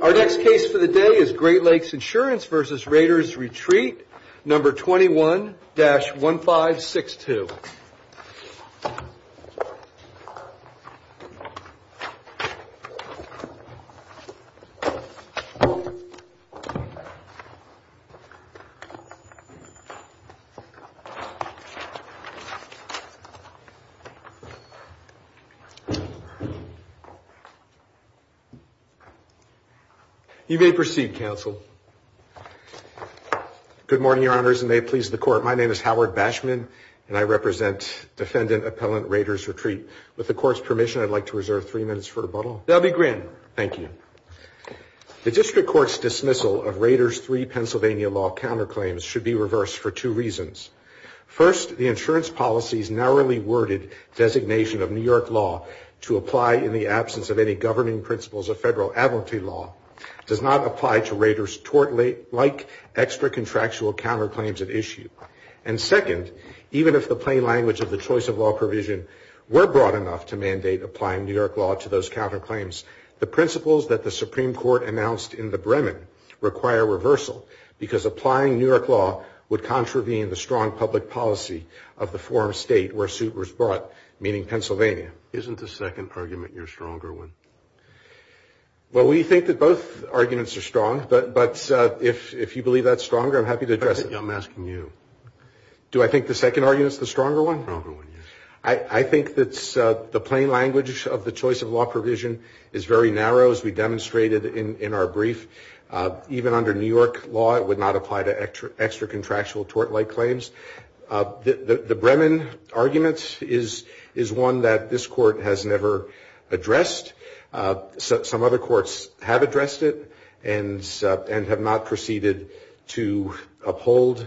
Our next case for the day is Great Lakes Insurance v. Raiders Retreat, No. 21-1562. You may proceed, Counsel. Good morning, Your Honors, and may it please the Court. My name is Howard Bashman, and I represent Defendant Appellant Raiders Retreat. With the Court's permission, I'd like to reserve three minutes for rebuttal. That will be granted. Thank you. The District Court's dismissal of Raiders III Pennsylvania law counterclaims should be reversed for two reasons. First, the insurance policy's narrowly worded designation of New York law to apply in the absence of any governing principles of Federal Advocacy Law does not apply to Raiders tort-like extra-contractual counterclaims at issue. And second, even if the plain language of the choice of law provision were broad enough to mandate applying New York law to those counterclaims, the principles that the Supreme Court announced in the Bremen require reversal because applying New York law would contravene the strong public policy of the forum state where suit was brought, meaning Pennsylvania. Isn't the second argument your stronger one? Well, we think that both arguments are strong, but if you believe that's stronger, I'm happy to address it. I'm asking you. Do I think the second argument's the stronger one? The stronger one, yes. I think that the plain language of the choice of law provision is very narrow, as we demonstrated in our brief. Even under New York law, it would not apply to extra-contractual tort-like claims. The Bremen argument is one that this Court has never addressed. Some other courts have addressed it and have not proceeded to uphold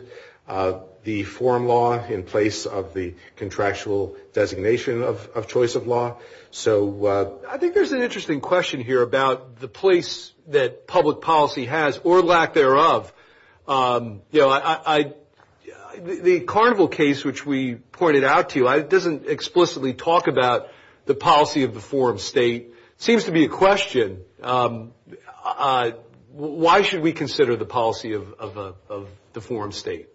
the forum law in place of the contractual designation of choice of law. I think there's an interesting question here about the place that public policy has, or lack thereof. The Carnival case, which we pointed out to you, doesn't explicitly talk about the policy of the forum state. It seems to be a question, why should we consider the policy of the forum state?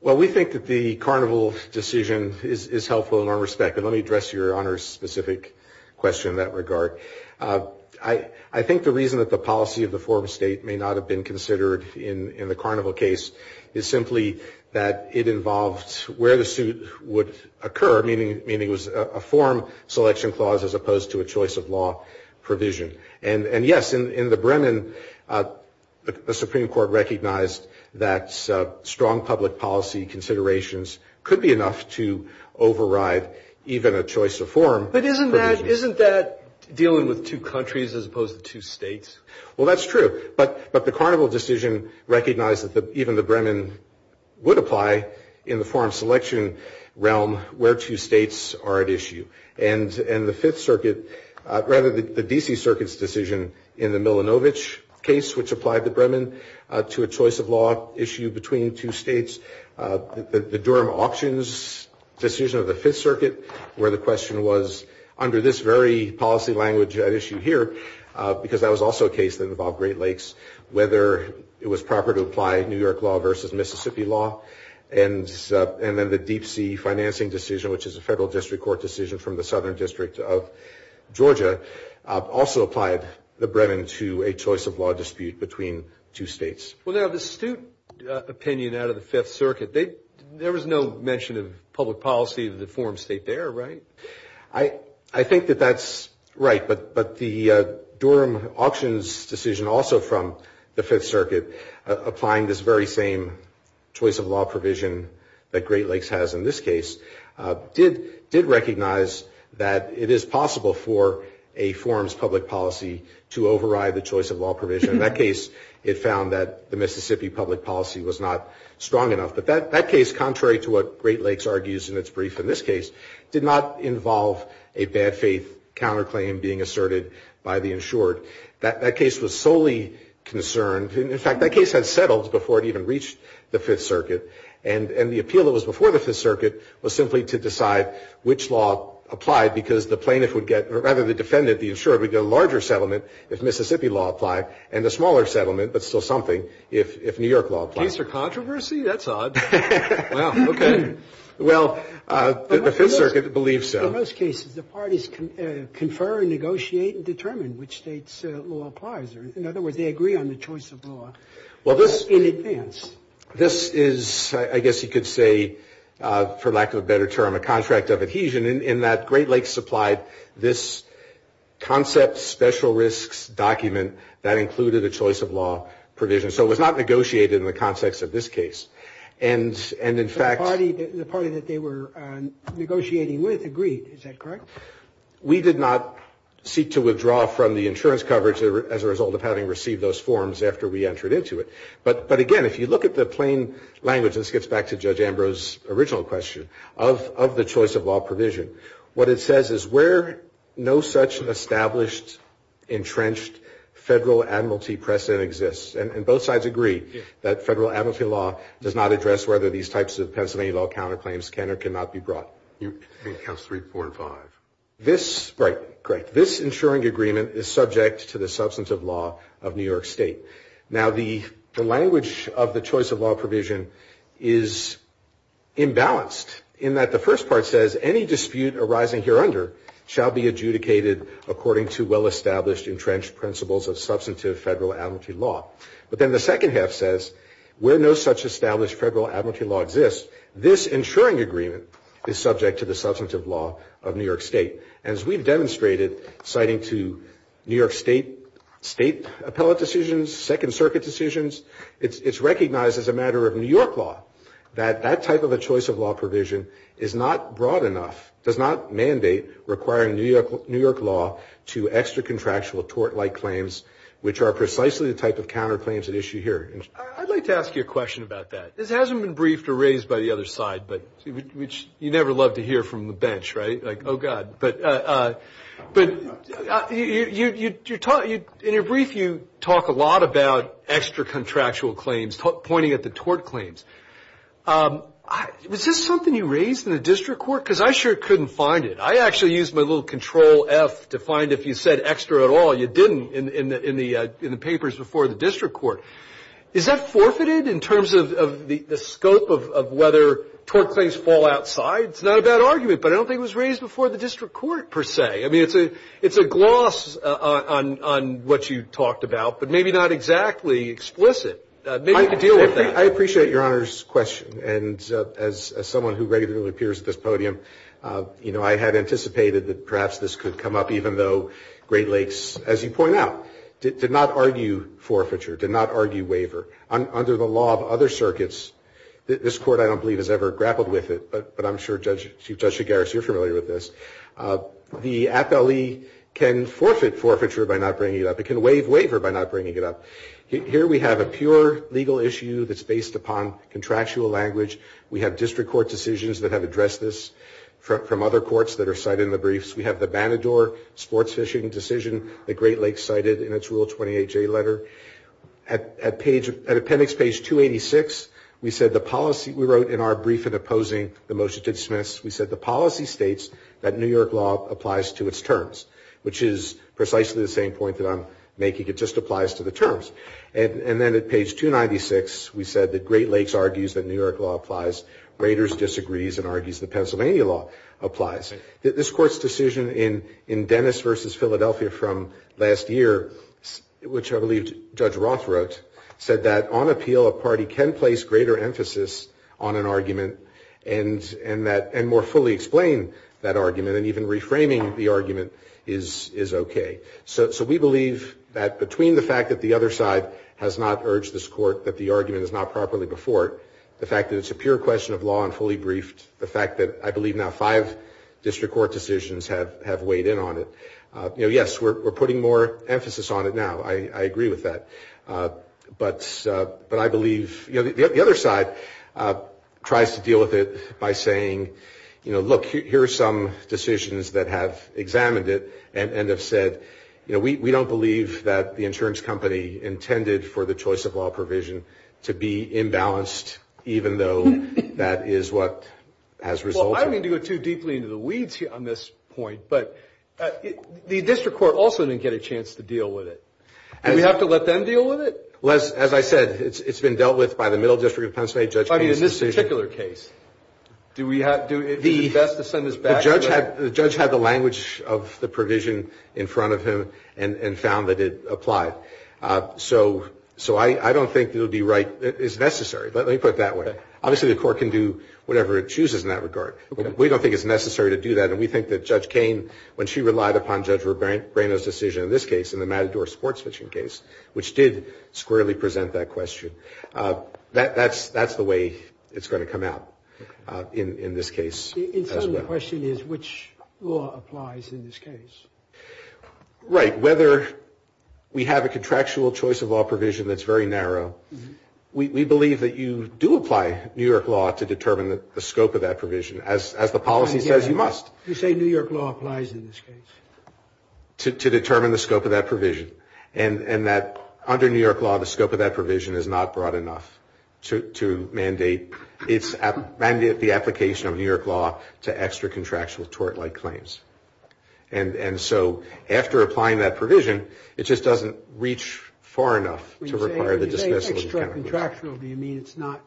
Well, we think that the Carnival decision is helpful in our respect, and let me address your Honor's specific question in that regard. I think the reason that the policy of the forum state may not have been considered in the Carnival case is simply that it involved where the suit would occur, meaning it was a forum selection clause as opposed to a choice of law provision. And yes, in the Bremen, the Supreme Court recognized that strong public policy considerations could be enough to override even a choice of forum provision. But isn't that dealing with two countries as opposed to two states? Well, that's true. But the Carnival decision recognized that even the Bremen would apply in the forum selection realm where two states are at issue. And the Fifth Circuit, rather the D.C. Circuit's decision in the Milanovic case, which applied the Bremen to a choice of law issue between two states, the Durham Auctions decision of the Fifth Circuit, where the question was, under this very policy language at issue here, because that was also a case that involved Great Lakes, whether it was proper to apply New York law versus Mississippi law, and then the Deep Sea financing decision, which is a federal district court decision from the Southern District of Georgia, also applied the Bremen to a choice of law dispute between two states. Well, now, the suit opinion out of the Fifth Circuit, there was no mention of public policy of the forum state there, right? I think that that's right. But the Durham Auctions decision also from the Fifth Circuit, applying this very same choice of law provision that Great Lakes has in this case, did recognize that it is possible for a forum's public policy to override the choice of law provision. In that case, it found that the Mississippi public policy was not strong enough. But that case, contrary to what Great Lakes argues in its brief in this case, did not involve a bad faith counterclaim being asserted by the insured. That case was solely concerned. In fact, that case had settled before it even reached the Fifth Circuit. And the appeal that was before the Fifth Circuit was simply to decide which law applied, because the plaintiff would get, or rather the defendant, the insured, would get a larger settlement if Mississippi law applied, and a smaller settlement, but still something, if New York law applied. Case for controversy? That's odd. Well, okay. Well, the Fifth Circuit believes so. In most cases, the parties confer and negotiate and determine which state's law applies. In other words, they agree on the choice of law in advance. This is, I guess you could say, for lack of a better term, a contract of adhesion, in that Great Lakes supplied this concept special risks document that included a choice of law provision. So it was not negotiated in the context of this case. And in fact— The party that they were negotiating with agreed. Is that correct? We did not seek to withdraw from the insurance coverage as a result of having received those forms after we entered into it. But again, if you look at the plain language, this gets back to Judge Ambrose's original question, of the choice of law provision, what it says is where no such established, entrenched federal admiralty precedent exists. And both sides agree that federal admiralty law does not address whether these types of Pennsylvania law counterclaims can or cannot be brought. You mean counts three, four, and five? This—right. Great. This insuring agreement is subject to the substantive law of New York State. Now, the language of the choice of law provision is imbalanced, in that the first part says any dispute arising hereunder shall be adjudicated according to well-established, entrenched principles of substantive federal admiralty law. But then the second half says where no such established federal admiralty law exists, this insuring agreement is subject to the substantive law of New York State. And as we've demonstrated, citing to New York State, State appellate decisions, Second Circuit decisions, it's recognized as a matter of New York law that that type of a choice of law provision is not broad enough, does not mandate requiring New York law to extra-contractual tort-like claims, which are precisely the type of counterclaims at issue here. I'd like to ask you a question about that. This hasn't been briefed or raised by the other side, which you never love to hear from the bench, right? Like, oh, God. But in your brief, you talk a lot about extra-contractual claims, pointing at the tort claims. Was this something you raised in the district court? Because I sure couldn't find it. I actually used my little Control-F to find if you said extra at all. You didn't in the papers before the district court. Is that forfeited in terms of the scope of whether tort claims fall outside? It's not a bad argument, but I don't think it was raised before the district court, per se. I mean, it's a gloss on what you talked about, but maybe not exactly explicit. Maybe you could deal with that. I appreciate Your Honor's question. And as someone who regularly appears at this podium, I had anticipated that perhaps this could come up, even though Great Lakes, as you point out, did not argue forfeiture, did not argue waiver. Under the law of other circuits, this Court, I don't believe, has ever grappled with it, but I'm sure Chief Judge Shigaris, you're familiar with this. The appellee can forfeit forfeiture by not bringing it up. It can waive waiver by not bringing it up. Here we have a pure legal issue that's based upon contractual language. We have district court decisions that have addressed this from other courts that are cited in the briefs. We have the Banador sports fishing decision that Great Lakes cited in its Rule 28J letter. At appendix page 286, we said the policy we wrote in our brief in opposing the motion to dismiss, we said the policy states that New York law applies to its terms, which is precisely the same point that I'm making. It just applies to the terms. And then at page 296, we said that Great Lakes argues that New York law applies. Raiders disagrees and argues that Pennsylvania law applies. This Court's decision in Dennis v. Philadelphia from last year, which I believe Judge Roth wrote, said that on appeal, a party can place greater emphasis on an argument and more fully explain that argument and even reframing the argument is okay. So we believe that between the fact that the other side has not urged this court that the argument is not properly before it, the fact that it's a pure question of law and fully briefed, the fact that I believe now five district court decisions have weighed in on it. Yes, we're putting more emphasis on it now. I agree with that. But I believe the other side tries to deal with it by saying, you know, look, here are some decisions that have examined it and have said, you know, we don't believe that the insurance company intended for the choice of law provision to be imbalanced, even though that is what has resulted. Well, I don't mean to go too deeply into the weeds on this point, but the district court also didn't get a chance to deal with it. Do we have to let them deal with it? As I said, it's been dealt with by the Middle District of Penn State. But in this particular case, is it best to send this back? The judge had the language of the provision in front of him and found that it applied. So I don't think it would be right. It's necessary. Let me put it that way. Obviously, the court can do whatever it chooses in that regard. We don't think it's necessary to do that, And we think that Judge Cain, when she relied upon Judge Rebreno's decision in this case, in the Matador sports-fishing case, which did squarely present that question, that's the way it's going to come out in this case as well. The question is which law applies in this case. Right. Whether we have a contractual choice of law provision that's very narrow, we believe that you do apply New York law to determine the scope of that provision. As the policy says, you must. You say New York law applies in this case. To determine the scope of that provision. And under New York law, the scope of that provision is not broad enough to mandate the application of New York law to extra-contractual tort-like claims. And so after applying that provision, it just doesn't reach far enough to require the dismissal of the kind of provision. When you say extra-contractual, do you mean it's not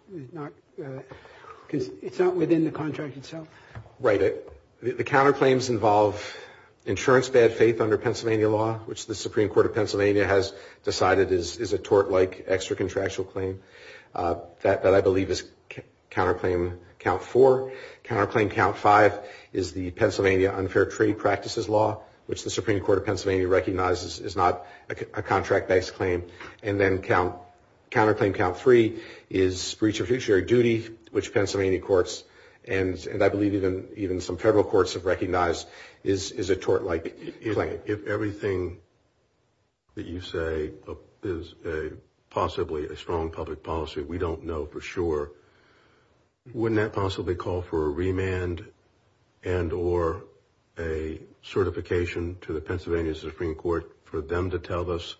within the contract? Right. The counterclaims involve insurance bad faith under Pennsylvania law, which the Supreme Court of Pennsylvania has decided is a tort-like extra-contractual claim. That I believe is counterclaim count four. Counterclaim count five is the Pennsylvania unfair trade practices law, which the Supreme Court of Pennsylvania recognizes is not a contract-based claim. And then counterclaim count three is breach of fiduciary duty, which Pennsylvania courts and I believe even some federal courts have recognized is a tort-like claim. If everything that you say is possibly a strong public policy, we don't know for sure, wouldn't that possibly call for a remand and or a certification to the Pennsylvania Supreme Court for them to tell us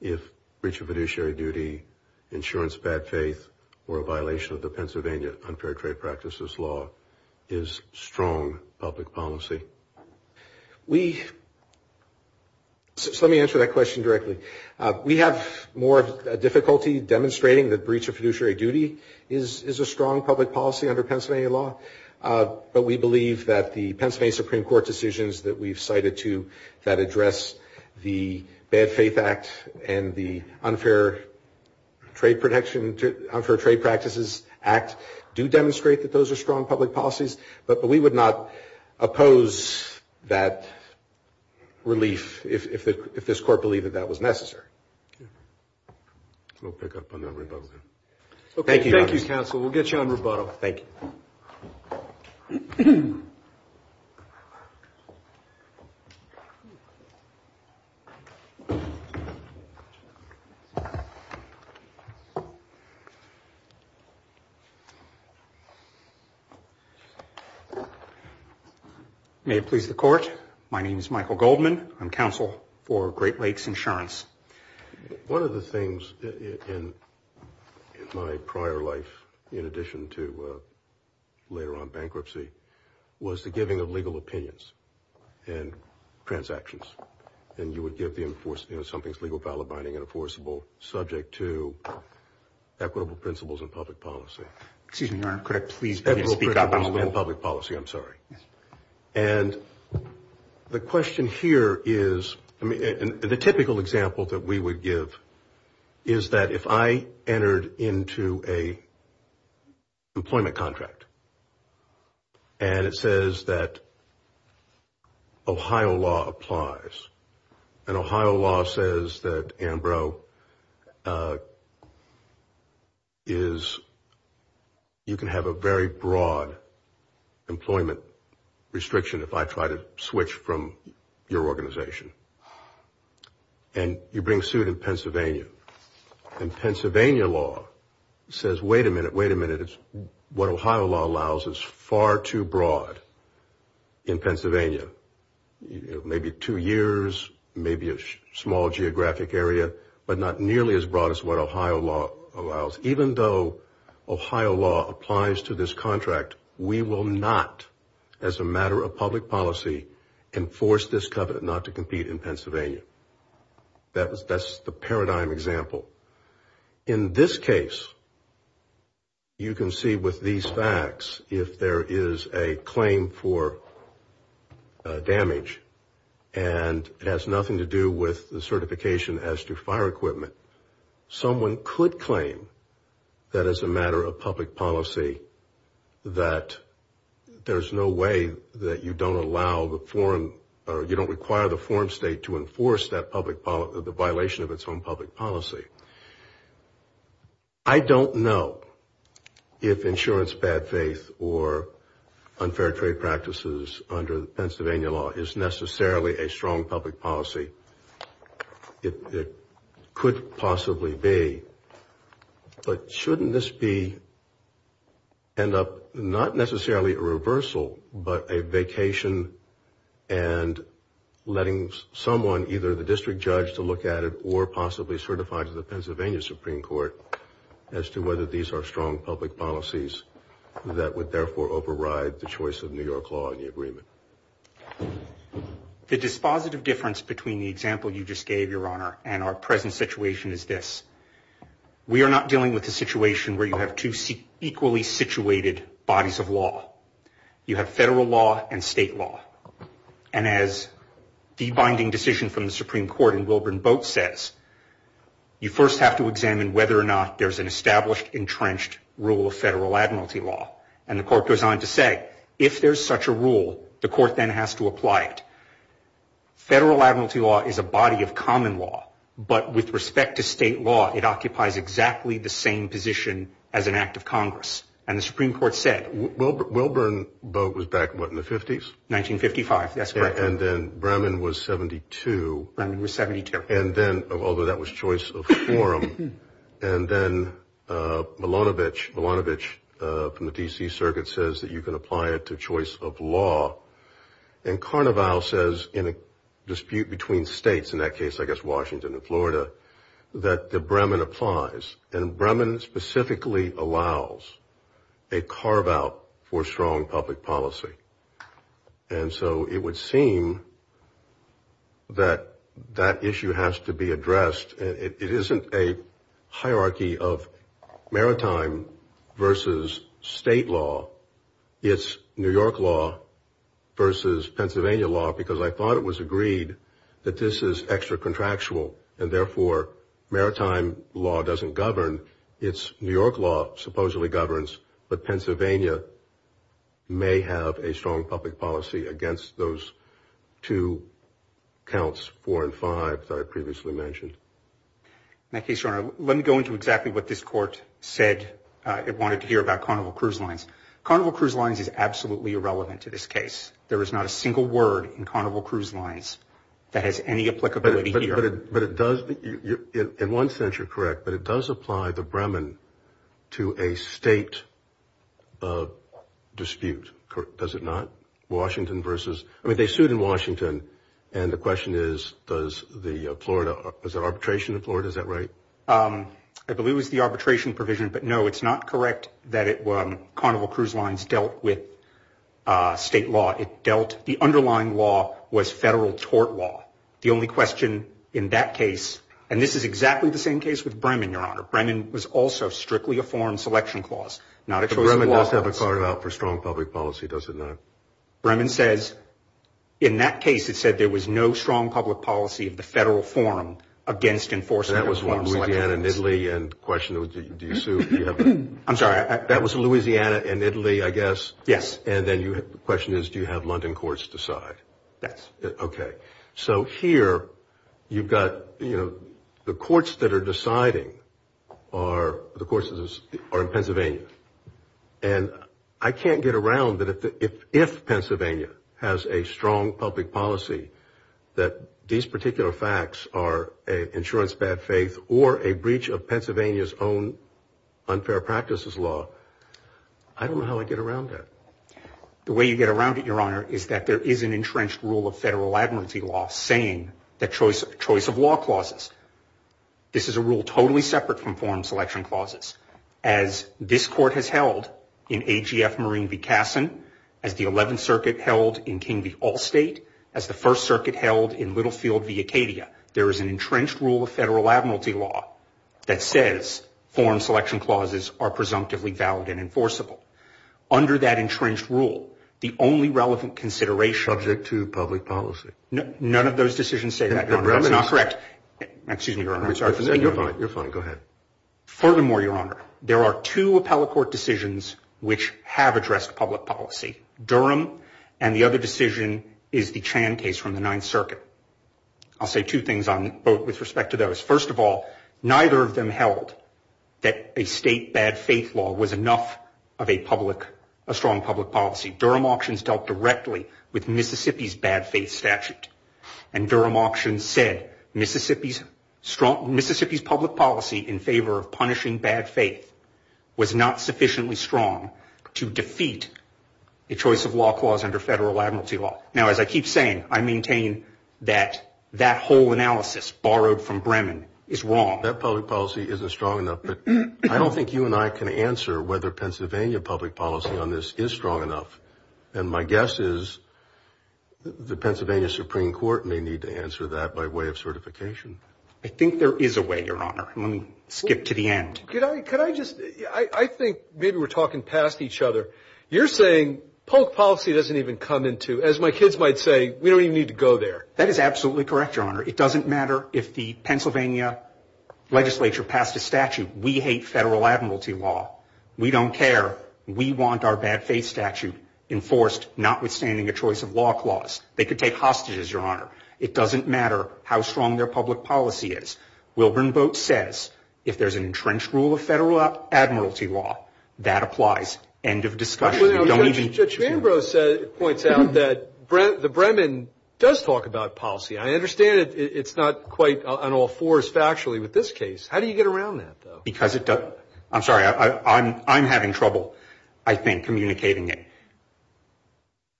if breach of fiduciary duty, insurance bad faith, or a violation of the Pennsylvania unfair trade practices law is strong public policy? Let me answer that question directly. We have more difficulty demonstrating that breach of fiduciary duty is a strong public policy under Pennsylvania law, but we believe that the Pennsylvania Supreme Court decisions that we've cited to that address the bad faith act and the unfair trade protection, unfair trade practices act do demonstrate that those are strong public policies, but we would not oppose that relief if this court believed that that was necessary. We'll pick up on that rebuttal then. Thank you, Your Honor. Thank you, counsel. We'll get you on rebuttal. Thank you. May it please the court. My name is Michael Goldman. I'm counsel for Great Lakes Insurance. One of the things in my prior life, in addition to later on bankruptcy, was the giving of legal opinions and transactions, and you would give something that's legal, valid, binding, and enforceable, subject to equitable principles and public policy. Excuse me, Your Honor. Correct, please. Equitable principles and public policy. I'm sorry. Yes. And the question here is, I mean, the typical example that we would give is that if I entered into a employment contract and it says that Ohio law applies, and Ohio law says that, Ambrose, you can have a very broad employment restriction if I try to switch from your organization, and you bring suit in Pennsylvania, and Pennsylvania law says, wait a minute, wait a minute. What Ohio law allows is far too broad in Pennsylvania. Maybe two years, maybe a small geographic area, but not nearly as broad as what Ohio law allows. Even though Ohio law applies to this contract, we will not, as a matter of public policy, enforce this covenant not to compete in Pennsylvania. That's the paradigm example. In this case, you can see with these facts, if there is a claim for damage, and it has nothing to do with the certification as to fire equipment, someone could claim that as a matter of public policy, that there's no way that you don't allow the foreign, or you don't require the foreign state to enforce the violation of its own public policy. I don't know if insurance bad faith or unfair trade practices under Pennsylvania law is necessarily a strong public policy. It could possibly be, but shouldn't this be not necessarily a reversal, but a vacation and letting someone, either the district judge to look at it, or possibly certified to the Pennsylvania Supreme Court, as to whether these are strong public policies that would therefore override the choice of New York law in the agreement. The dispositive difference between the example you just gave, Your Honor, and our present situation is this. We are not dealing with a situation where you have two equally situated bodies of law. You have federal law and state law, and as the binding decision from the Supreme Court in Wilburn Boat says, you first have to examine whether or not there's an established, entrenched rule of federal admiralty law, and the court goes on to say if there's such a rule, the court then has to apply it. Federal admiralty law is a body of common law, but with respect to state law, it occupies exactly the same position as an act of Congress, and the Supreme Court said. Wilburn Boat was back, what, in the 50s? 1955, that's correct. And then Bremen was 72. Bremen was 72. And then, although that was choice of forum, and then Malonovich from the D.C. Circuit says that you can apply it to choice of law, and Carnevale says in a dispute between states, in that case, I guess, Washington and Florida, that the Bremen applies, and Bremen specifically allows a carve-out for strong public policy. And so it would seem that that issue has to be addressed. It isn't a hierarchy of maritime versus state law. It's New York law versus Pennsylvania law, because I thought it was agreed that this is extra-contractual, and therefore maritime law doesn't govern. It's New York law supposedly governs, but Pennsylvania may have a strong public policy against those two counts, four and five, that I previously mentioned. In that case, Your Honor, let me go into exactly what this court said. It wanted to hear about Carnevale Cruise Lines. Carnevale Cruise Lines is absolutely irrelevant to this case. There is not a single word in Carnevale Cruise Lines that has any applicability here. But it does, in one sense, you're correct, but it does apply the Bremen to a state dispute, does it not? Washington versus, I mean, they sued in Washington, and the question is, does the Florida, is there arbitration in Florida, is that right? I believe it was the arbitration provision, but no, it's not correct that Carnevale Cruise Lines dealt with state law. It dealt, the underlying law was federal tort law. The only question in that case, and this is exactly the same case with Bremen, Your Honor. Bremen was also strictly a foreign selection clause. Bremen does have a card out for strong public policy, does it not? Bremen says, in that case, it said there was no strong public policy of the federal forum against enforcing a foreign selection clause. That was Louisiana and Italy, and the question was, do you sue? I'm sorry. That was Louisiana and Italy, I guess? Yes. And then the question is, do you have London courts decide? Yes. Okay. So here, you've got, you know, the courts that are deciding are, the courts are in Pennsylvania. And I can't get around that if Pennsylvania has a strong public policy, that these particular facts are an insurance bad faith or a breach of Pennsylvania's own unfair practices law. I don't know how I get around that. The way you get around it, Your Honor, is that there is an entrenched rule of federal admiralty law saying that choice of law clauses. This is a rule totally separate from foreign selection clauses. As this court has held in AGF Marine v. Cassin, as the 11th Circuit held in King v. Allstate, as the First Circuit held in Littlefield v. Acadia, there is an entrenched rule of federal admiralty law that says foreign selection clauses are presumptively valid and enforceable. Under that entrenched rule, the only relevant consideration. Subject to public policy. None of those decisions say that, Your Honor. That's not correct. Excuse me, Your Honor. You're fine. You're fine. Go ahead. Furthermore, Your Honor, there are two appellate court decisions which have addressed public policy. Durham and the other decision is the Chan case from the 9th Circuit. I'll say two things on both with respect to those. First of all, neither of them held that a state bad faith law was enough of a strong public policy. Durham auctions dealt directly with Mississippi's bad faith statute. And Durham auctions said Mississippi's public policy in favor of punishing bad faith was not sufficiently strong to defeat a choice of law clause under federal admiralty law. Now, as I keep saying, I maintain that that whole analysis borrowed from Bremen is wrong. That public policy isn't strong enough. But I don't think you and I can answer whether Pennsylvania public policy on this is strong enough. And my guess is the Pennsylvania Supreme Court may need to answer that by way of certification. I think there is a way, Your Honor. Let me skip to the end. Could I just, I think maybe we're talking past each other. You're saying public policy doesn't even come into, as my kids might say, we don't even need to go there. That is absolutely correct, Your Honor. It doesn't matter if the Pennsylvania legislature passed a statute. We hate federal admiralty law. We don't care. We want our bad faith statute enforced, notwithstanding a choice of law clause. They could take hostages, Your Honor. It doesn't matter how strong their public policy is. Wilburn Boat says if there's an entrenched rule of federal admiralty law, that applies. End of discussion. Judge Manbrose points out that the Bremen does talk about policy. I understand it's not quite on all fours factually with this case. How do you get around that, though? Because it does. I'm sorry. I'm having trouble, I think, communicating it.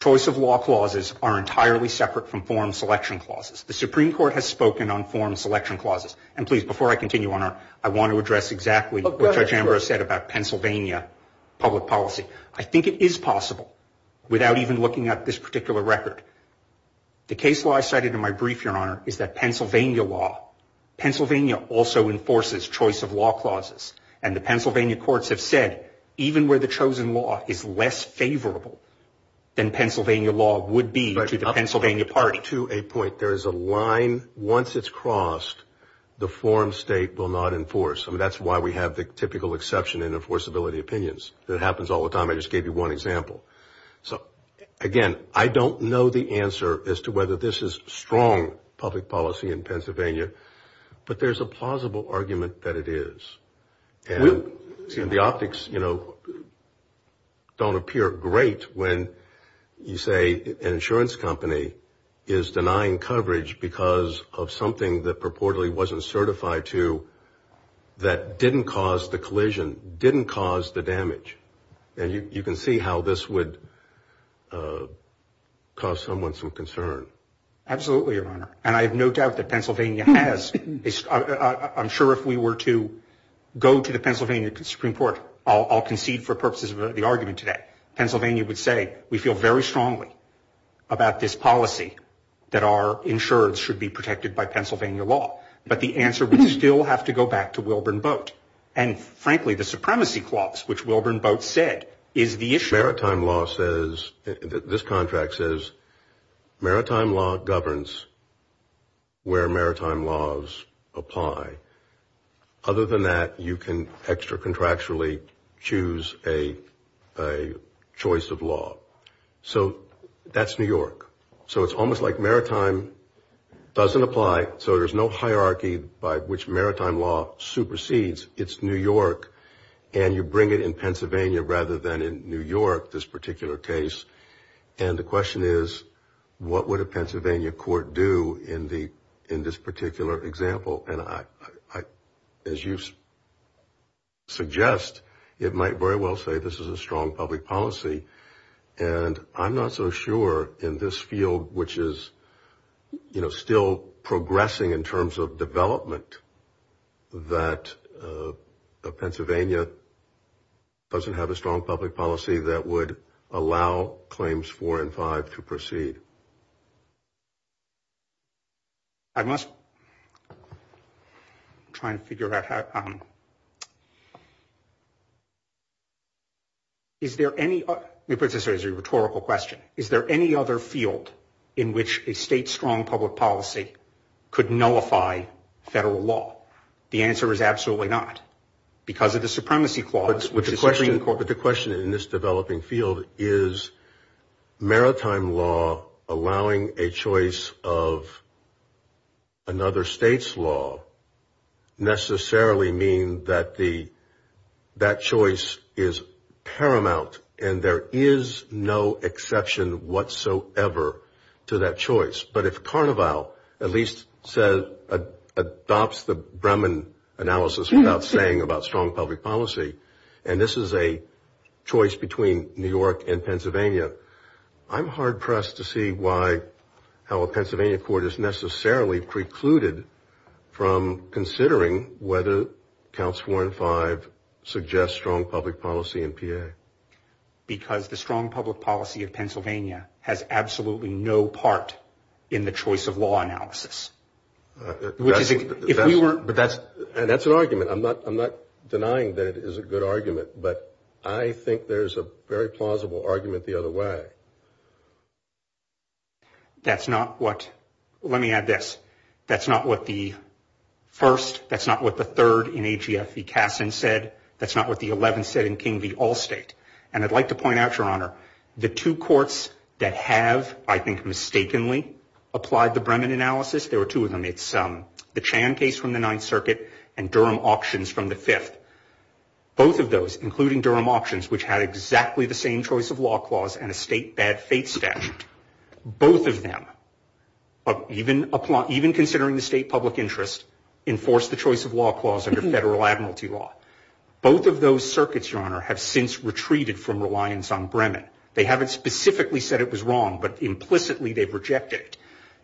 Choice of law clauses are entirely separate from forum selection clauses. The Supreme Court has spoken on forum selection clauses. And, please, before I continue, Your Honor, I want to address exactly what Judge Manbrose said about Pennsylvania public policy. I think it is possible without even looking at this particular record. The case law I cited in my brief, Your Honor, is that Pennsylvania law, Pennsylvania also enforces choice of law clauses. And the Pennsylvania courts have said even where the chosen law is less favorable than Pennsylvania law would be to the Pennsylvania party. There is a line. Once it's crossed, the forum state will not enforce. And that's why we have the typical exception in enforceability opinions. It happens all the time. I just gave you one example. So, again, I don't know the answer as to whether this is strong public policy in Pennsylvania. But there's a plausible argument that it is. And the optics, you know, don't appear great when you say an insurance company is denying coverage because of something that purportedly wasn't certified to that didn't cause the collision, didn't cause the damage. And you can see how this would cause someone some concern. Absolutely, Your Honor. And I have no doubt that Pennsylvania has. I'm sure if we were to go to the Pennsylvania Supreme Court, I'll concede for purposes of the argument today, Pennsylvania would say we feel very strongly about this policy that our insurance should be protected by Pennsylvania law. But the answer would still have to go back to Wilburn Boat. And, frankly, the supremacy clause, which Wilburn Boat said, is the issue. This contract says maritime law governs where maritime laws apply. Other than that, you can extra contractually choose a choice of law. So that's New York. So it's almost like maritime doesn't apply. So there's no hierarchy by which maritime law supersedes. And you bring it in Pennsylvania rather than in New York, this particular case. And the question is, what would a Pennsylvania court do in this particular example? And I, as you suggest, it might very well say this is a strong public policy. And I'm not so sure in this field, which is, you know, still progressing in terms of development, that Pennsylvania doesn't have a strong public policy that would allow claims four and five to proceed. I must try and figure out how. Is there any particular rhetorical question? Is there any other field in which a state strong public policy could nullify federal law? The answer is absolutely not because of the supremacy clause. But the question in this developing field is maritime law allowing a choice of another state's law necessarily mean that the, that choice is paramount. And there is no exception whatsoever to that choice. But if Carnival at least says, adopts the Bremen analysis without saying about strong public policy, and this is a choice between New York and Pennsylvania, I'm hard pressed to see why, how a Pennsylvania court is necessarily precluded from considering whether counts four and five suggest strong public policy in PA. Because the strong public policy of Pennsylvania has absolutely no part in the choice of law analysis. Which is, if we were, but that's. And that's an argument. I'm not, I'm not denying that it is a good argument, but I think there's a very plausible argument the other way. That's not what, let me add this. That's not what the first, that's not what the third in AGFV Cassin said. That's not what the 11th said in King v. Allstate. And I'd like to point out, Your Honor, the two courts that have, I think, mistakenly applied the Bremen analysis. There were two of them. It's the Chan case from the Ninth Circuit and Durham Auctions from the Fifth. Both of those, including Durham Auctions, which had exactly the same choice of law clause and a state bad fate statute. Both of them, even considering the state public interest, enforce the choice of law clause under federal admiralty law. Both of those circuits, Your Honor, have since retreated from reliance on Bremen. They haven't specifically said it was wrong, but implicitly they've rejected it.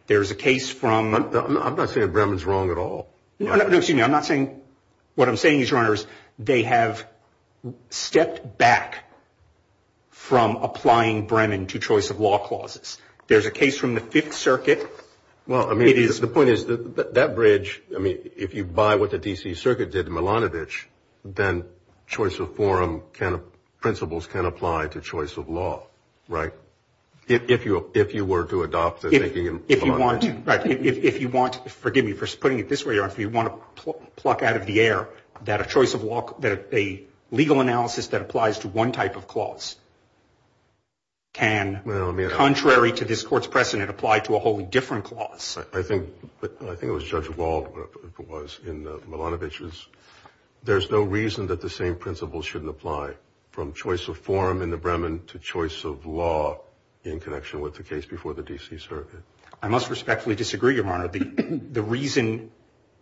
There's a case from. I'm not saying Bremen's wrong at all. No, no, excuse me. What I'm saying is, Your Honor, is they have stepped back from applying Bremen to choice of law clauses. There's a case from the Fifth Circuit. Well, I mean, the point is that that bridge, I mean, if you buy what the D.C. Circuit did in Milanovich, then choice of forum principles can apply to choice of law, right? If you want, forgive me for putting it this way, Your Honor, if you want to pluck out of the air that a choice of law, that a legal analysis that applies to one type of clause can, contrary to this court's precedent, apply to a wholly different clause. I think it was Judge Wald was in Milanovich's. There's no reason that the same principles shouldn't apply from choice of forum in the Bremen to choice of law in connection with the case before the D.C. Circuit. I must respectfully disagree, Your Honor. The reason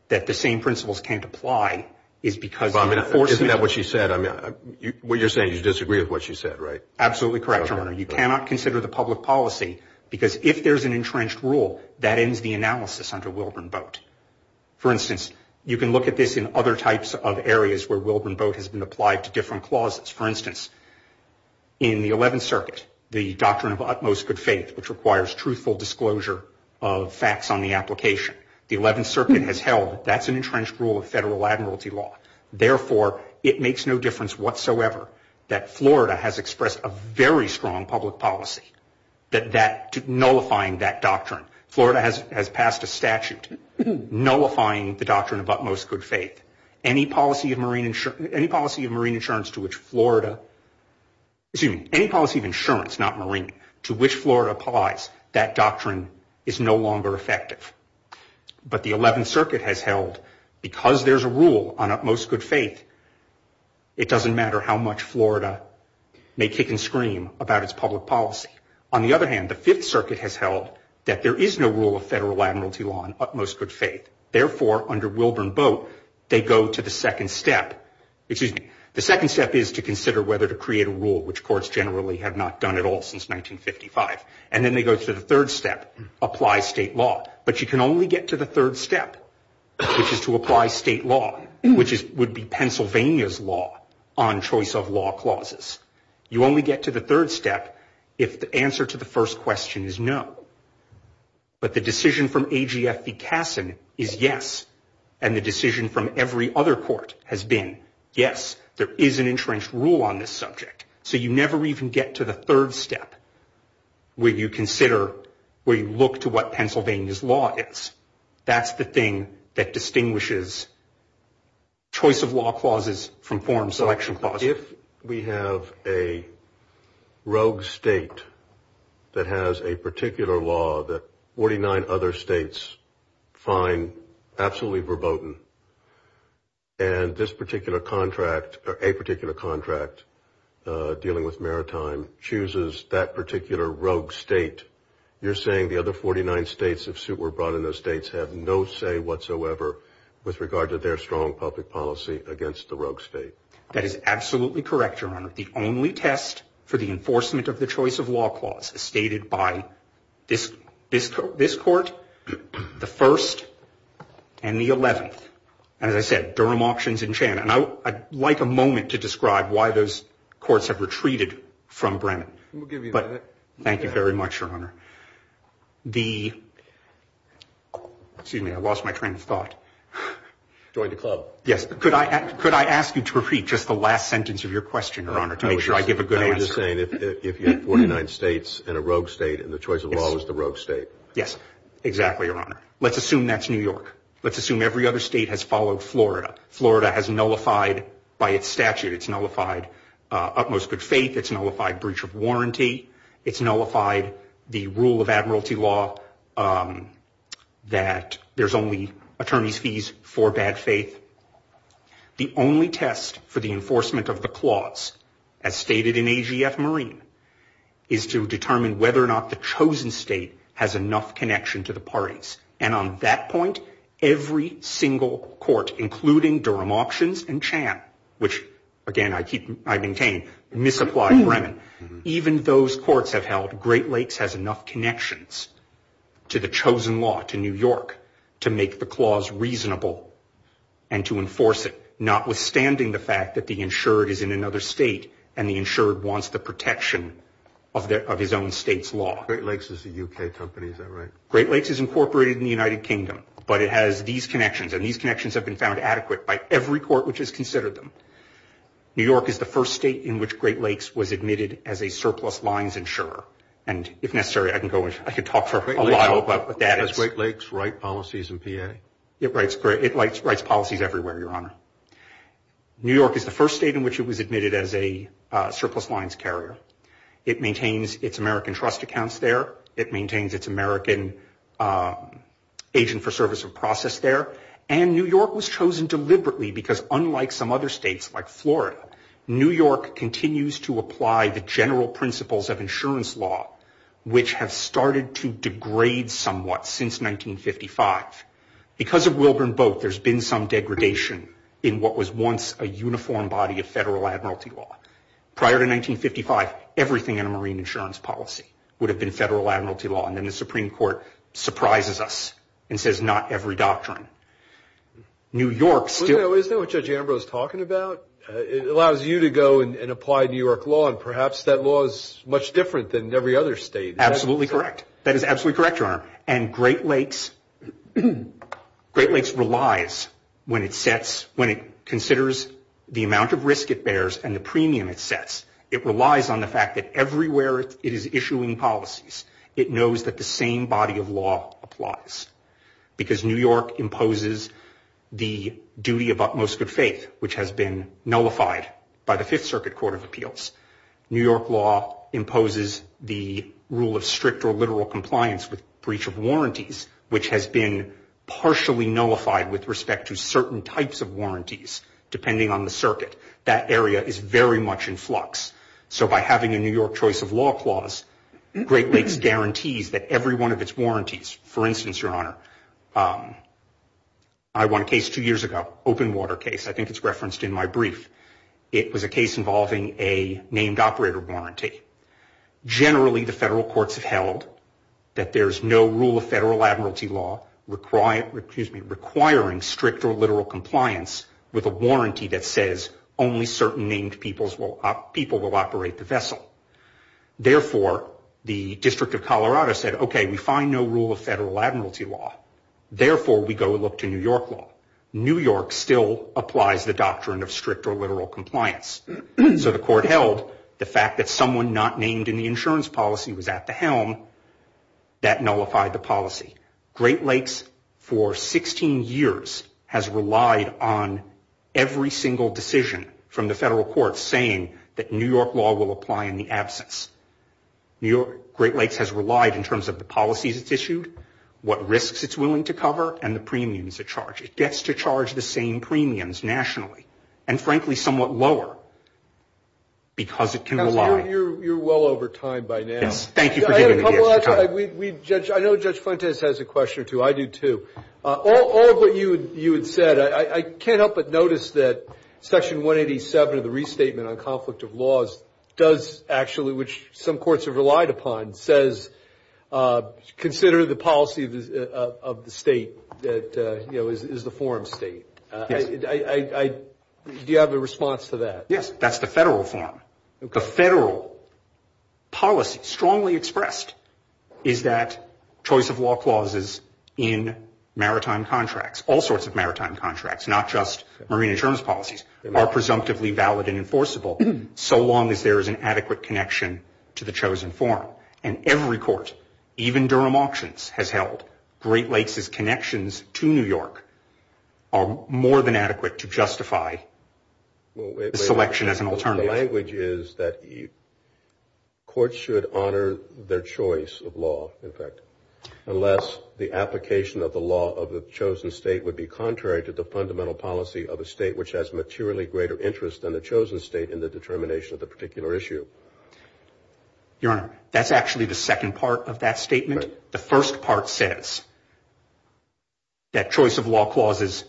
that the same principles can't apply is because of enforcement. Isn't that what she said? What you're saying is you disagree with what she said, right? Absolutely correct, Your Honor. You cannot consider the public policy because if there's an entrenched rule, that ends the analysis under Wilburn Boat. For instance, you can look at this in other types of areas where Wilburn Boat has been applied to different clauses. For instance, in the 11th Circuit, the doctrine of utmost good faith, which requires truthful disclosure of facts on the application. The 11th Circuit has held that that's an entrenched rule of federal admiralty law. Therefore, it makes no difference whatsoever that Florida has expressed a very strong public policy nullifying that doctrine. Florida has passed a statute nullifying the doctrine of utmost good faith. Any policy of marine insurance to which Florida applies that doctrine is no longer effective. But the 11th Circuit has held because there's a rule on utmost good faith, it doesn't matter how much Florida may kick and scream about its public policy. On the other hand, the 5th Circuit has held that there is no rule of federal admiralty law on utmost good faith. Therefore, under Wilburn Boat, they go to the second step. The second step is to consider whether to create a rule, which courts generally have not done at all since 1955. And then they go to the third step, apply state law. But you can only get to the third step, which is to apply state law, which would be Pennsylvania's law on choice of law clauses. You only get to the third step if the answer to the first question is no. But the decision from A.G.F.V. Cassin is yes. And the decision from every other court has been yes, there is an insurance rule on this subject. So you never even get to the third step where you consider, where you look to what Pennsylvania's law is. That's the thing that distinguishes choice of law clauses from foreign selection clauses. If we have a rogue state that has a particular law that 49 other states find absolutely verboten, and this particular contract or a particular contract dealing with maritime chooses that particular rogue state, you're saying the other 49 states, if suit were brought in those states, have no say whatsoever with regard to their strong public policy against the rogue state. That is absolutely correct, Your Honor. The only test for the enforcement of the choice of law clause is stated by this court, the 1st, and the 11th. And as I said, Durham Auctions in Chan. And I'd like a moment to describe why those courts have retreated from Brennan. We'll give you a minute. Thank you very much, Your Honor. The, excuse me, I lost my train of thought. Join the club. Yes, could I ask you to repeat just the last sentence of your question, Your Honor, to make sure I give a good answer. I was just saying if you have 49 states and a rogue state and the choice of law is the rogue state. Yes, exactly, Your Honor. Let's assume that's New York. Let's assume every other state has followed Florida. Florida has nullified, by its statute, it's nullified utmost good faith, it's nullified breach of warranty, it's nullified the rule of admiralty law that there's only attorney's fees for bad faith. The only test for the enforcement of the clause, as stated in AGF Marine, is to determine whether or not the chosen state has enough connection to the parties. And on that point, every single court, including Durham Auctions and Chan, which, again, I maintain, misapply Bremen. Even those courts have held Great Lakes has enough connections to the chosen law, to New York, to make the clause reasonable and to enforce it, notwithstanding the fact that the insured is in another state and the insured wants the protection of his own state's law. Great Lakes is a U.K. company, is that right? Great Lakes is incorporated in the United Kingdom, but it has these connections, and these connections have been found adequate by every court which has considered them. New York is the first state in which Great Lakes was admitted as a surplus lines insurer, and if necessary, I can talk for a while about what that is. Does Great Lakes write policies in PA? It writes policies everywhere, Your Honor. New York is the first state in which it was admitted as a surplus lines carrier. It maintains its American trust accounts there. It maintains its American agent for service of process there, and New York was chosen deliberately because, unlike some other states like Florida, New York continues to apply the general principles of insurance law, which have started to degrade somewhat since 1955. Because of Wilburn Boat, there's been some degradation in what was once a uniform body of federal admiralty law. Prior to 1955, everything in a marine insurance policy would have been federal admiralty law, and then the Supreme Court surprises us and says not every doctrine. New York still... Isn't that what Judge Ambrose is talking about? It allows you to go and apply New York law, and perhaps that law is much different than every other state. Absolutely correct. That is absolutely correct, Your Honor. And Great Lakes relies when it sets... When it considers the amount of risk it bears and the premium it sets, it relies on the fact that everywhere it is issuing policies, it knows that the same body of law applies. Because New York imposes the duty of utmost good faith, which has been nullified by the Fifth Circuit Court of Appeals. New York law imposes the rule of strict or literal compliance with breach of warranties, which has been partially nullified with respect to certain types of warranties, depending on the circuit. That area is very much in flux. So by having a New York choice of law clause, Great Lakes guarantees that every one of its warranties... For instance, Your Honor, I won a case two years ago, open water case. I think it's referenced in my brief. It was a case involving a named operator warranty. Generally, the federal courts have held that there's no rule of federal admiralty law requiring strict or literal compliance with a warranty that says only certain named people will operate the vessel. Therefore, the District of Colorado said, okay, we find no rule of federal admiralty law. Therefore, we go look to New York law. New York still applies the doctrine of strict or literal compliance. So the court held the fact that someone not named in the insurance policy was at the helm. That nullified the policy. Great Lakes, for 16 years, has relied on every single decision from the federal courts saying that New York law will apply in the absence. Great Lakes has relied in terms of the policies it's issued, what risks it's willing to cover, It gets to charge the same premiums nationally and, frankly, somewhat lower because it can rely. Counsel, you're well over time by now. Thank you for giving me the extra time. I know Judge Fuentes has a question or two. I do, too. All of what you had said, I can't help but notice that Section 187 of the Restatement on Conflict of Laws does actually, which some courts have relied upon, says consider the policy of the state that is the forum state. Do you have a response to that? Yes, that's the federal form. The federal policy strongly expressed is that choice of law clauses in maritime contracts, all sorts of maritime contracts, not just marine insurance policies, are presumptively valid and enforceable so long as there is an adequate connection to the chosen form. And every court, even Durham Auctions has held, Great Lakes' connections to New York are more than adequate to justify selection as an alternative. The language is that courts should honor their choice of law, in fact, unless the application of the law of the chosen state would be contrary to the fundamental policy of a state which has materially greater interest than the chosen state in the determination of the particular issue. Your Honor, that's actually the second part of that statement. The first part says that choice of law clauses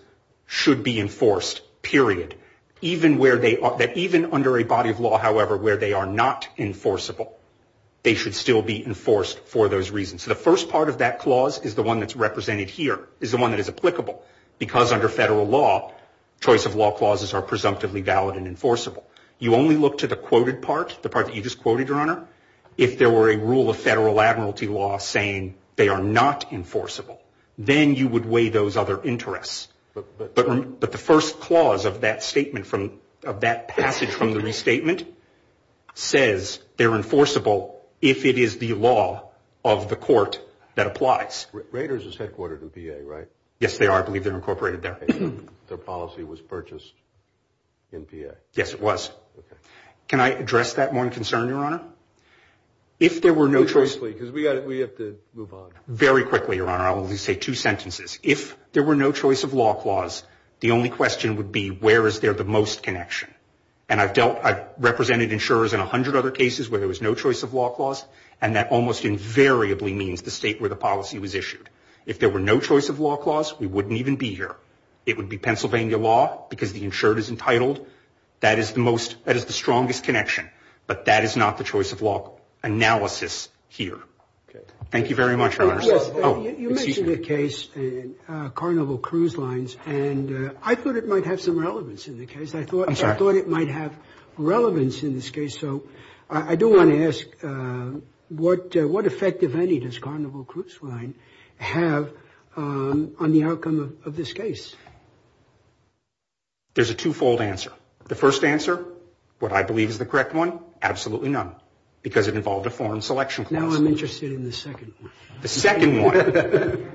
should be enforced, period, that even under a body of law, however, where they are not enforceable, they should still be enforced for those reasons. The first part of that clause is the one that's represented here, is the one that is applicable, because under federal law, choice of law clauses are presumptively valid and enforceable. You only look to the quoted part, the part that you just quoted, Your Honor, if there were a rule of federal admiralty law saying they are not enforceable, then you would weigh those other interests. But the first clause of that statement, of that passage from the restatement, says they're enforceable if it is the law of the court that applies. Raiders is headquartered in VA, right? Yes, they are. I believe they're incorporated there. Their policy was purchased in VA? Yes, it was. Can I address that one concern, Your Honor? If there were no choice... Please, please, please, because we have to move on. Very quickly, Your Honor, I'll only say two sentences. If there were no choice of law clause, the only question would be where is there the most connection? And I've represented insurers in 100 other cases where there was no choice of law clause, and that almost invariably means the state where the policy was issued. If there were no choice of law clause, we wouldn't even be here. It would be Pennsylvania law because the insured is entitled. That is the strongest connection, but that is not the choice of law analysis here. Thank you very much, Your Honor. You mentioned a case, Carnival Cruise Lines, and I thought it might have some relevance in the case. I thought it might have relevance in this case. So I do want to ask what effect, if any, does Carnival Cruise Line have on the outcome of this case? There's a twofold answer. The first answer, what I believe is the correct one, absolutely none, because it involved a foreign selection clause. Now I'm interested in the second one. The second one,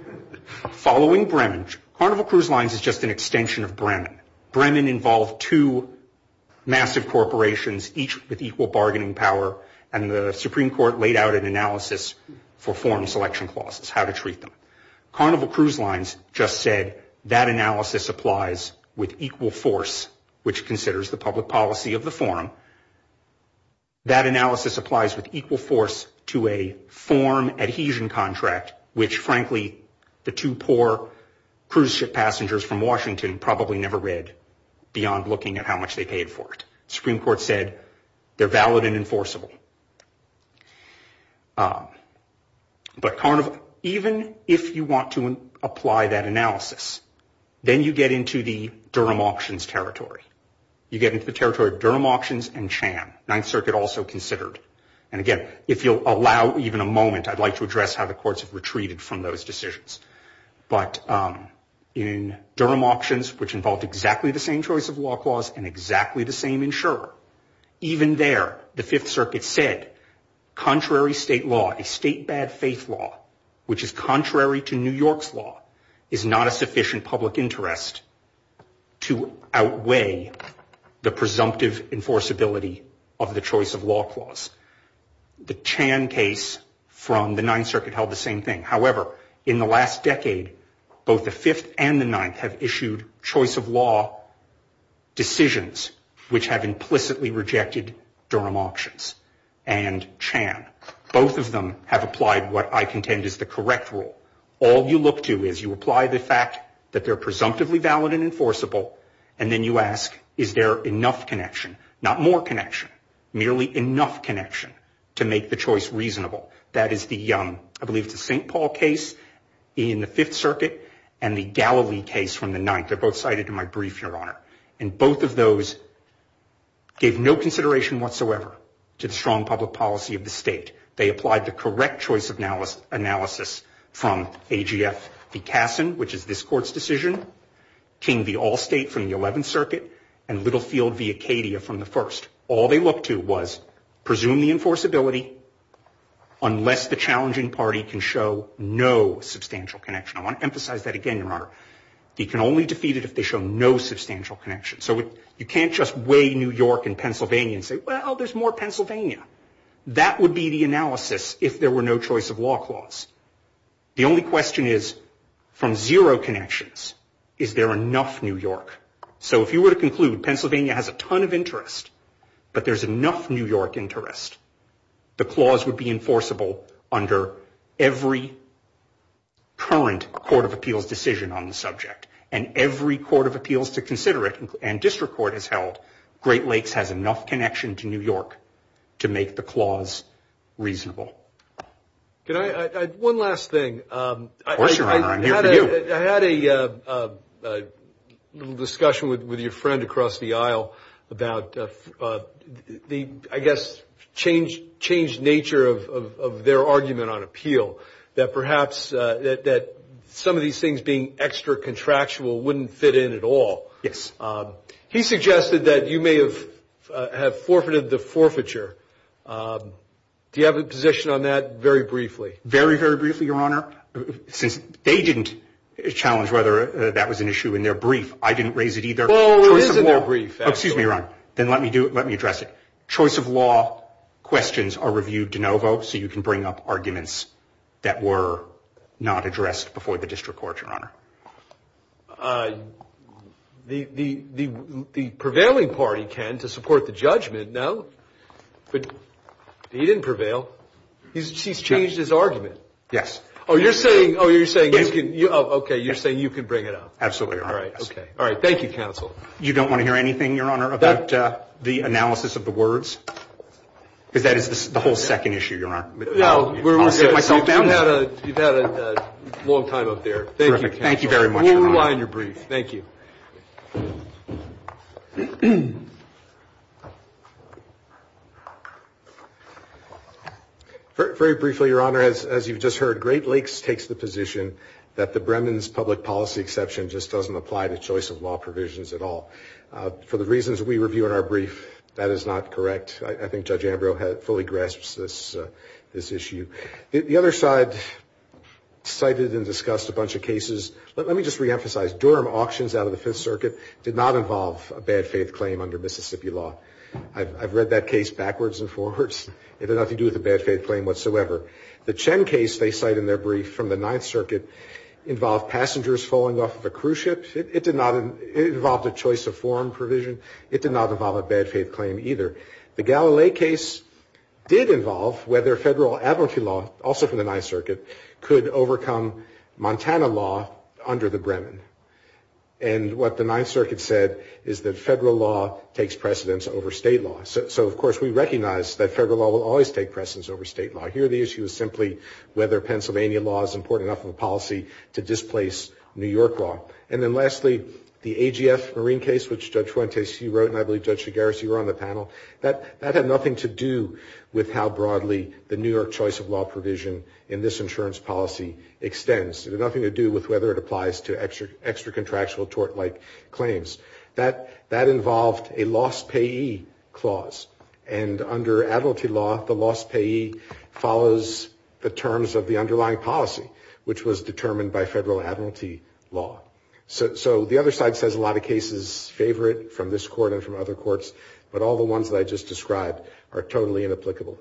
following Bremen, Carnival Cruise Lines is just an extension of Bremen. Bremen involved two massive corporations, each with equal bargaining power, and the Supreme Court laid out an analysis for foreign selection clauses, how to treat them. Carnival Cruise Lines just said that analysis applies with equal force, which considers the public policy of the forum. That analysis applies with equal force to a form adhesion contract, which, frankly, the two poor cruise ship passengers from Washington probably never read, beyond looking at how much they paid for it. The Supreme Court said they're valid and enforceable. But Carnival, even if you want to apply that analysis, then you get into the Durham Auctions territory. You get into the territory of Durham Auctions and Chan, Ninth Circuit also considered. And, again, if you'll allow even a moment, I'd like to address how the courts have retreated from those decisions. But in Durham Auctions, which involved exactly the same choice of law clause and exactly the same insurer, even there the Fifth Circuit said, contrary state law, a state bad faith law, which is contrary to New York's law, is not a sufficient public interest to outweigh the presumptive enforceability of the choice of law clause. The Chan case from the Ninth Circuit held the same thing. However, in the last decade, both the Fifth and the Ninth have issued choice of law decisions, which have implicitly rejected Durham Auctions and Chan. Both of them have applied what I contend is the correct rule. All you look to is you apply the fact that they're presumptively valid and enforceable, and then you ask, is there enough connection, not more connection, merely enough connection to make the choice reasonable. That is the, I believe it's the St. Paul case in the Fifth Circuit and the Galilee case from the Ninth. They're both cited in my brief, Your Honor. And both of those gave no consideration whatsoever to the strong public policy of the state. They applied the correct choice analysis from AGF v. Cassin, which is this Court's decision, King v. Allstate from the Eleventh Circuit, and Littlefield v. Acadia from the First. All they looked to was presume the enforceability unless the challenging party can show no substantial connection. I want to emphasize that again, Your Honor. You can only defeat it if they show no substantial connection. So you can't just weigh New York and Pennsylvania and say, well, there's more Pennsylvania. That would be the analysis if there were no choice of law clause. The only question is, from zero connections, is there enough New York? So if you were to conclude Pennsylvania has a ton of interest, but there's enough New York interest, the clause would be enforceable under every current Court of Appeals decision on the subject. And every Court of Appeals to consider it, and District Court has held, Great Lakes has enough connection to New York to make the clause reasonable. One last thing. Of course, Your Honor, I'm here for you. I had a little discussion with your friend across the aisle about the, I guess, changed nature of their argument on appeal, that perhaps some of these things being extra contractual wouldn't fit in at all. Yes. He suggested that you may have forfeited the forfeiture. Do you have a position on that very briefly? Very, very briefly, Your Honor. Since they didn't challenge whether that was an issue in their brief, I didn't raise it either. Well, it is in their brief. Excuse me, Your Honor. Then let me address it. Choice of law questions are reviewed de novo, The prevailing party, Ken, to support the judgment, no. He didn't prevail. He's changed his argument. Yes. Oh, you're saying you can bring it up. Absolutely, Your Honor. All right. Thank you, counsel. You don't want to hear anything, Your Honor, about the analysis of the words? Because that is the whole second issue, Your Honor. I'll sit myself down. You've had a long time up there. Thank you very much, Your Honor. We'll rely on your brief. Thank you. Very briefly, Your Honor, as you've just heard, Great Lakes takes the position that the Bremen's public policy exception just doesn't apply to choice of law provisions at all. For the reasons we review in our brief, that is not correct. I think Judge Ambrose fully grasps this issue. The other side cited and discussed a bunch of cases. Let me just reemphasize. Durham auctions out of the Fifth Circuit did not involve a bad faith claim under Mississippi law. I've read that case backwards and forwards. It had nothing to do with a bad faith claim whatsoever. The Chen case they cite in their brief from the Ninth Circuit involved passengers falling off of a cruise ship. It involved a choice of forum provision. It did not involve a bad faith claim either. The Galilee case did involve whether federal advocacy law, also from the Ninth Circuit, could overcome Montana law under the Bremen. And what the Ninth Circuit said is that federal law takes precedence over state law. So, of course, we recognize that federal law will always take precedence over state law. Here the issue is simply whether Pennsylvania law is important enough of a policy to displace New York law. And then lastly, the AGF Marine case, which Judge Fuentes, he wrote, and I believe Judge Shigarashi were on the panel, that had nothing to do with how broadly the New York choice of law provision in this insurance policy extends. It had nothing to do with whether it applies to extra contractual tort-like claims. That involved a loss payee clause. And under admiralty law, the loss payee follows the terms of the underlying policy, which was determined by federal admiralty law. So the other side says a lot of cases favor it from this court and from other courts, but all the ones that I just described are totally inapplicable.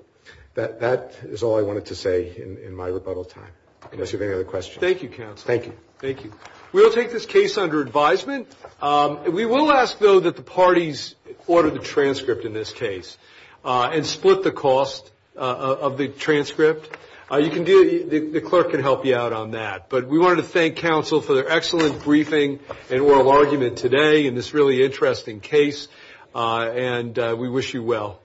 That is all I wanted to say in my rebuttal time, unless you have any other questions. Thank you, counsel. Thank you. Thank you. We will take this case under advisement. We will ask, though, that the parties order the transcript in this case and split the cost of the transcript. The clerk can help you out on that. But we wanted to thank counsel for their excellent briefing and oral argument today in this really interesting case. And we wish you well.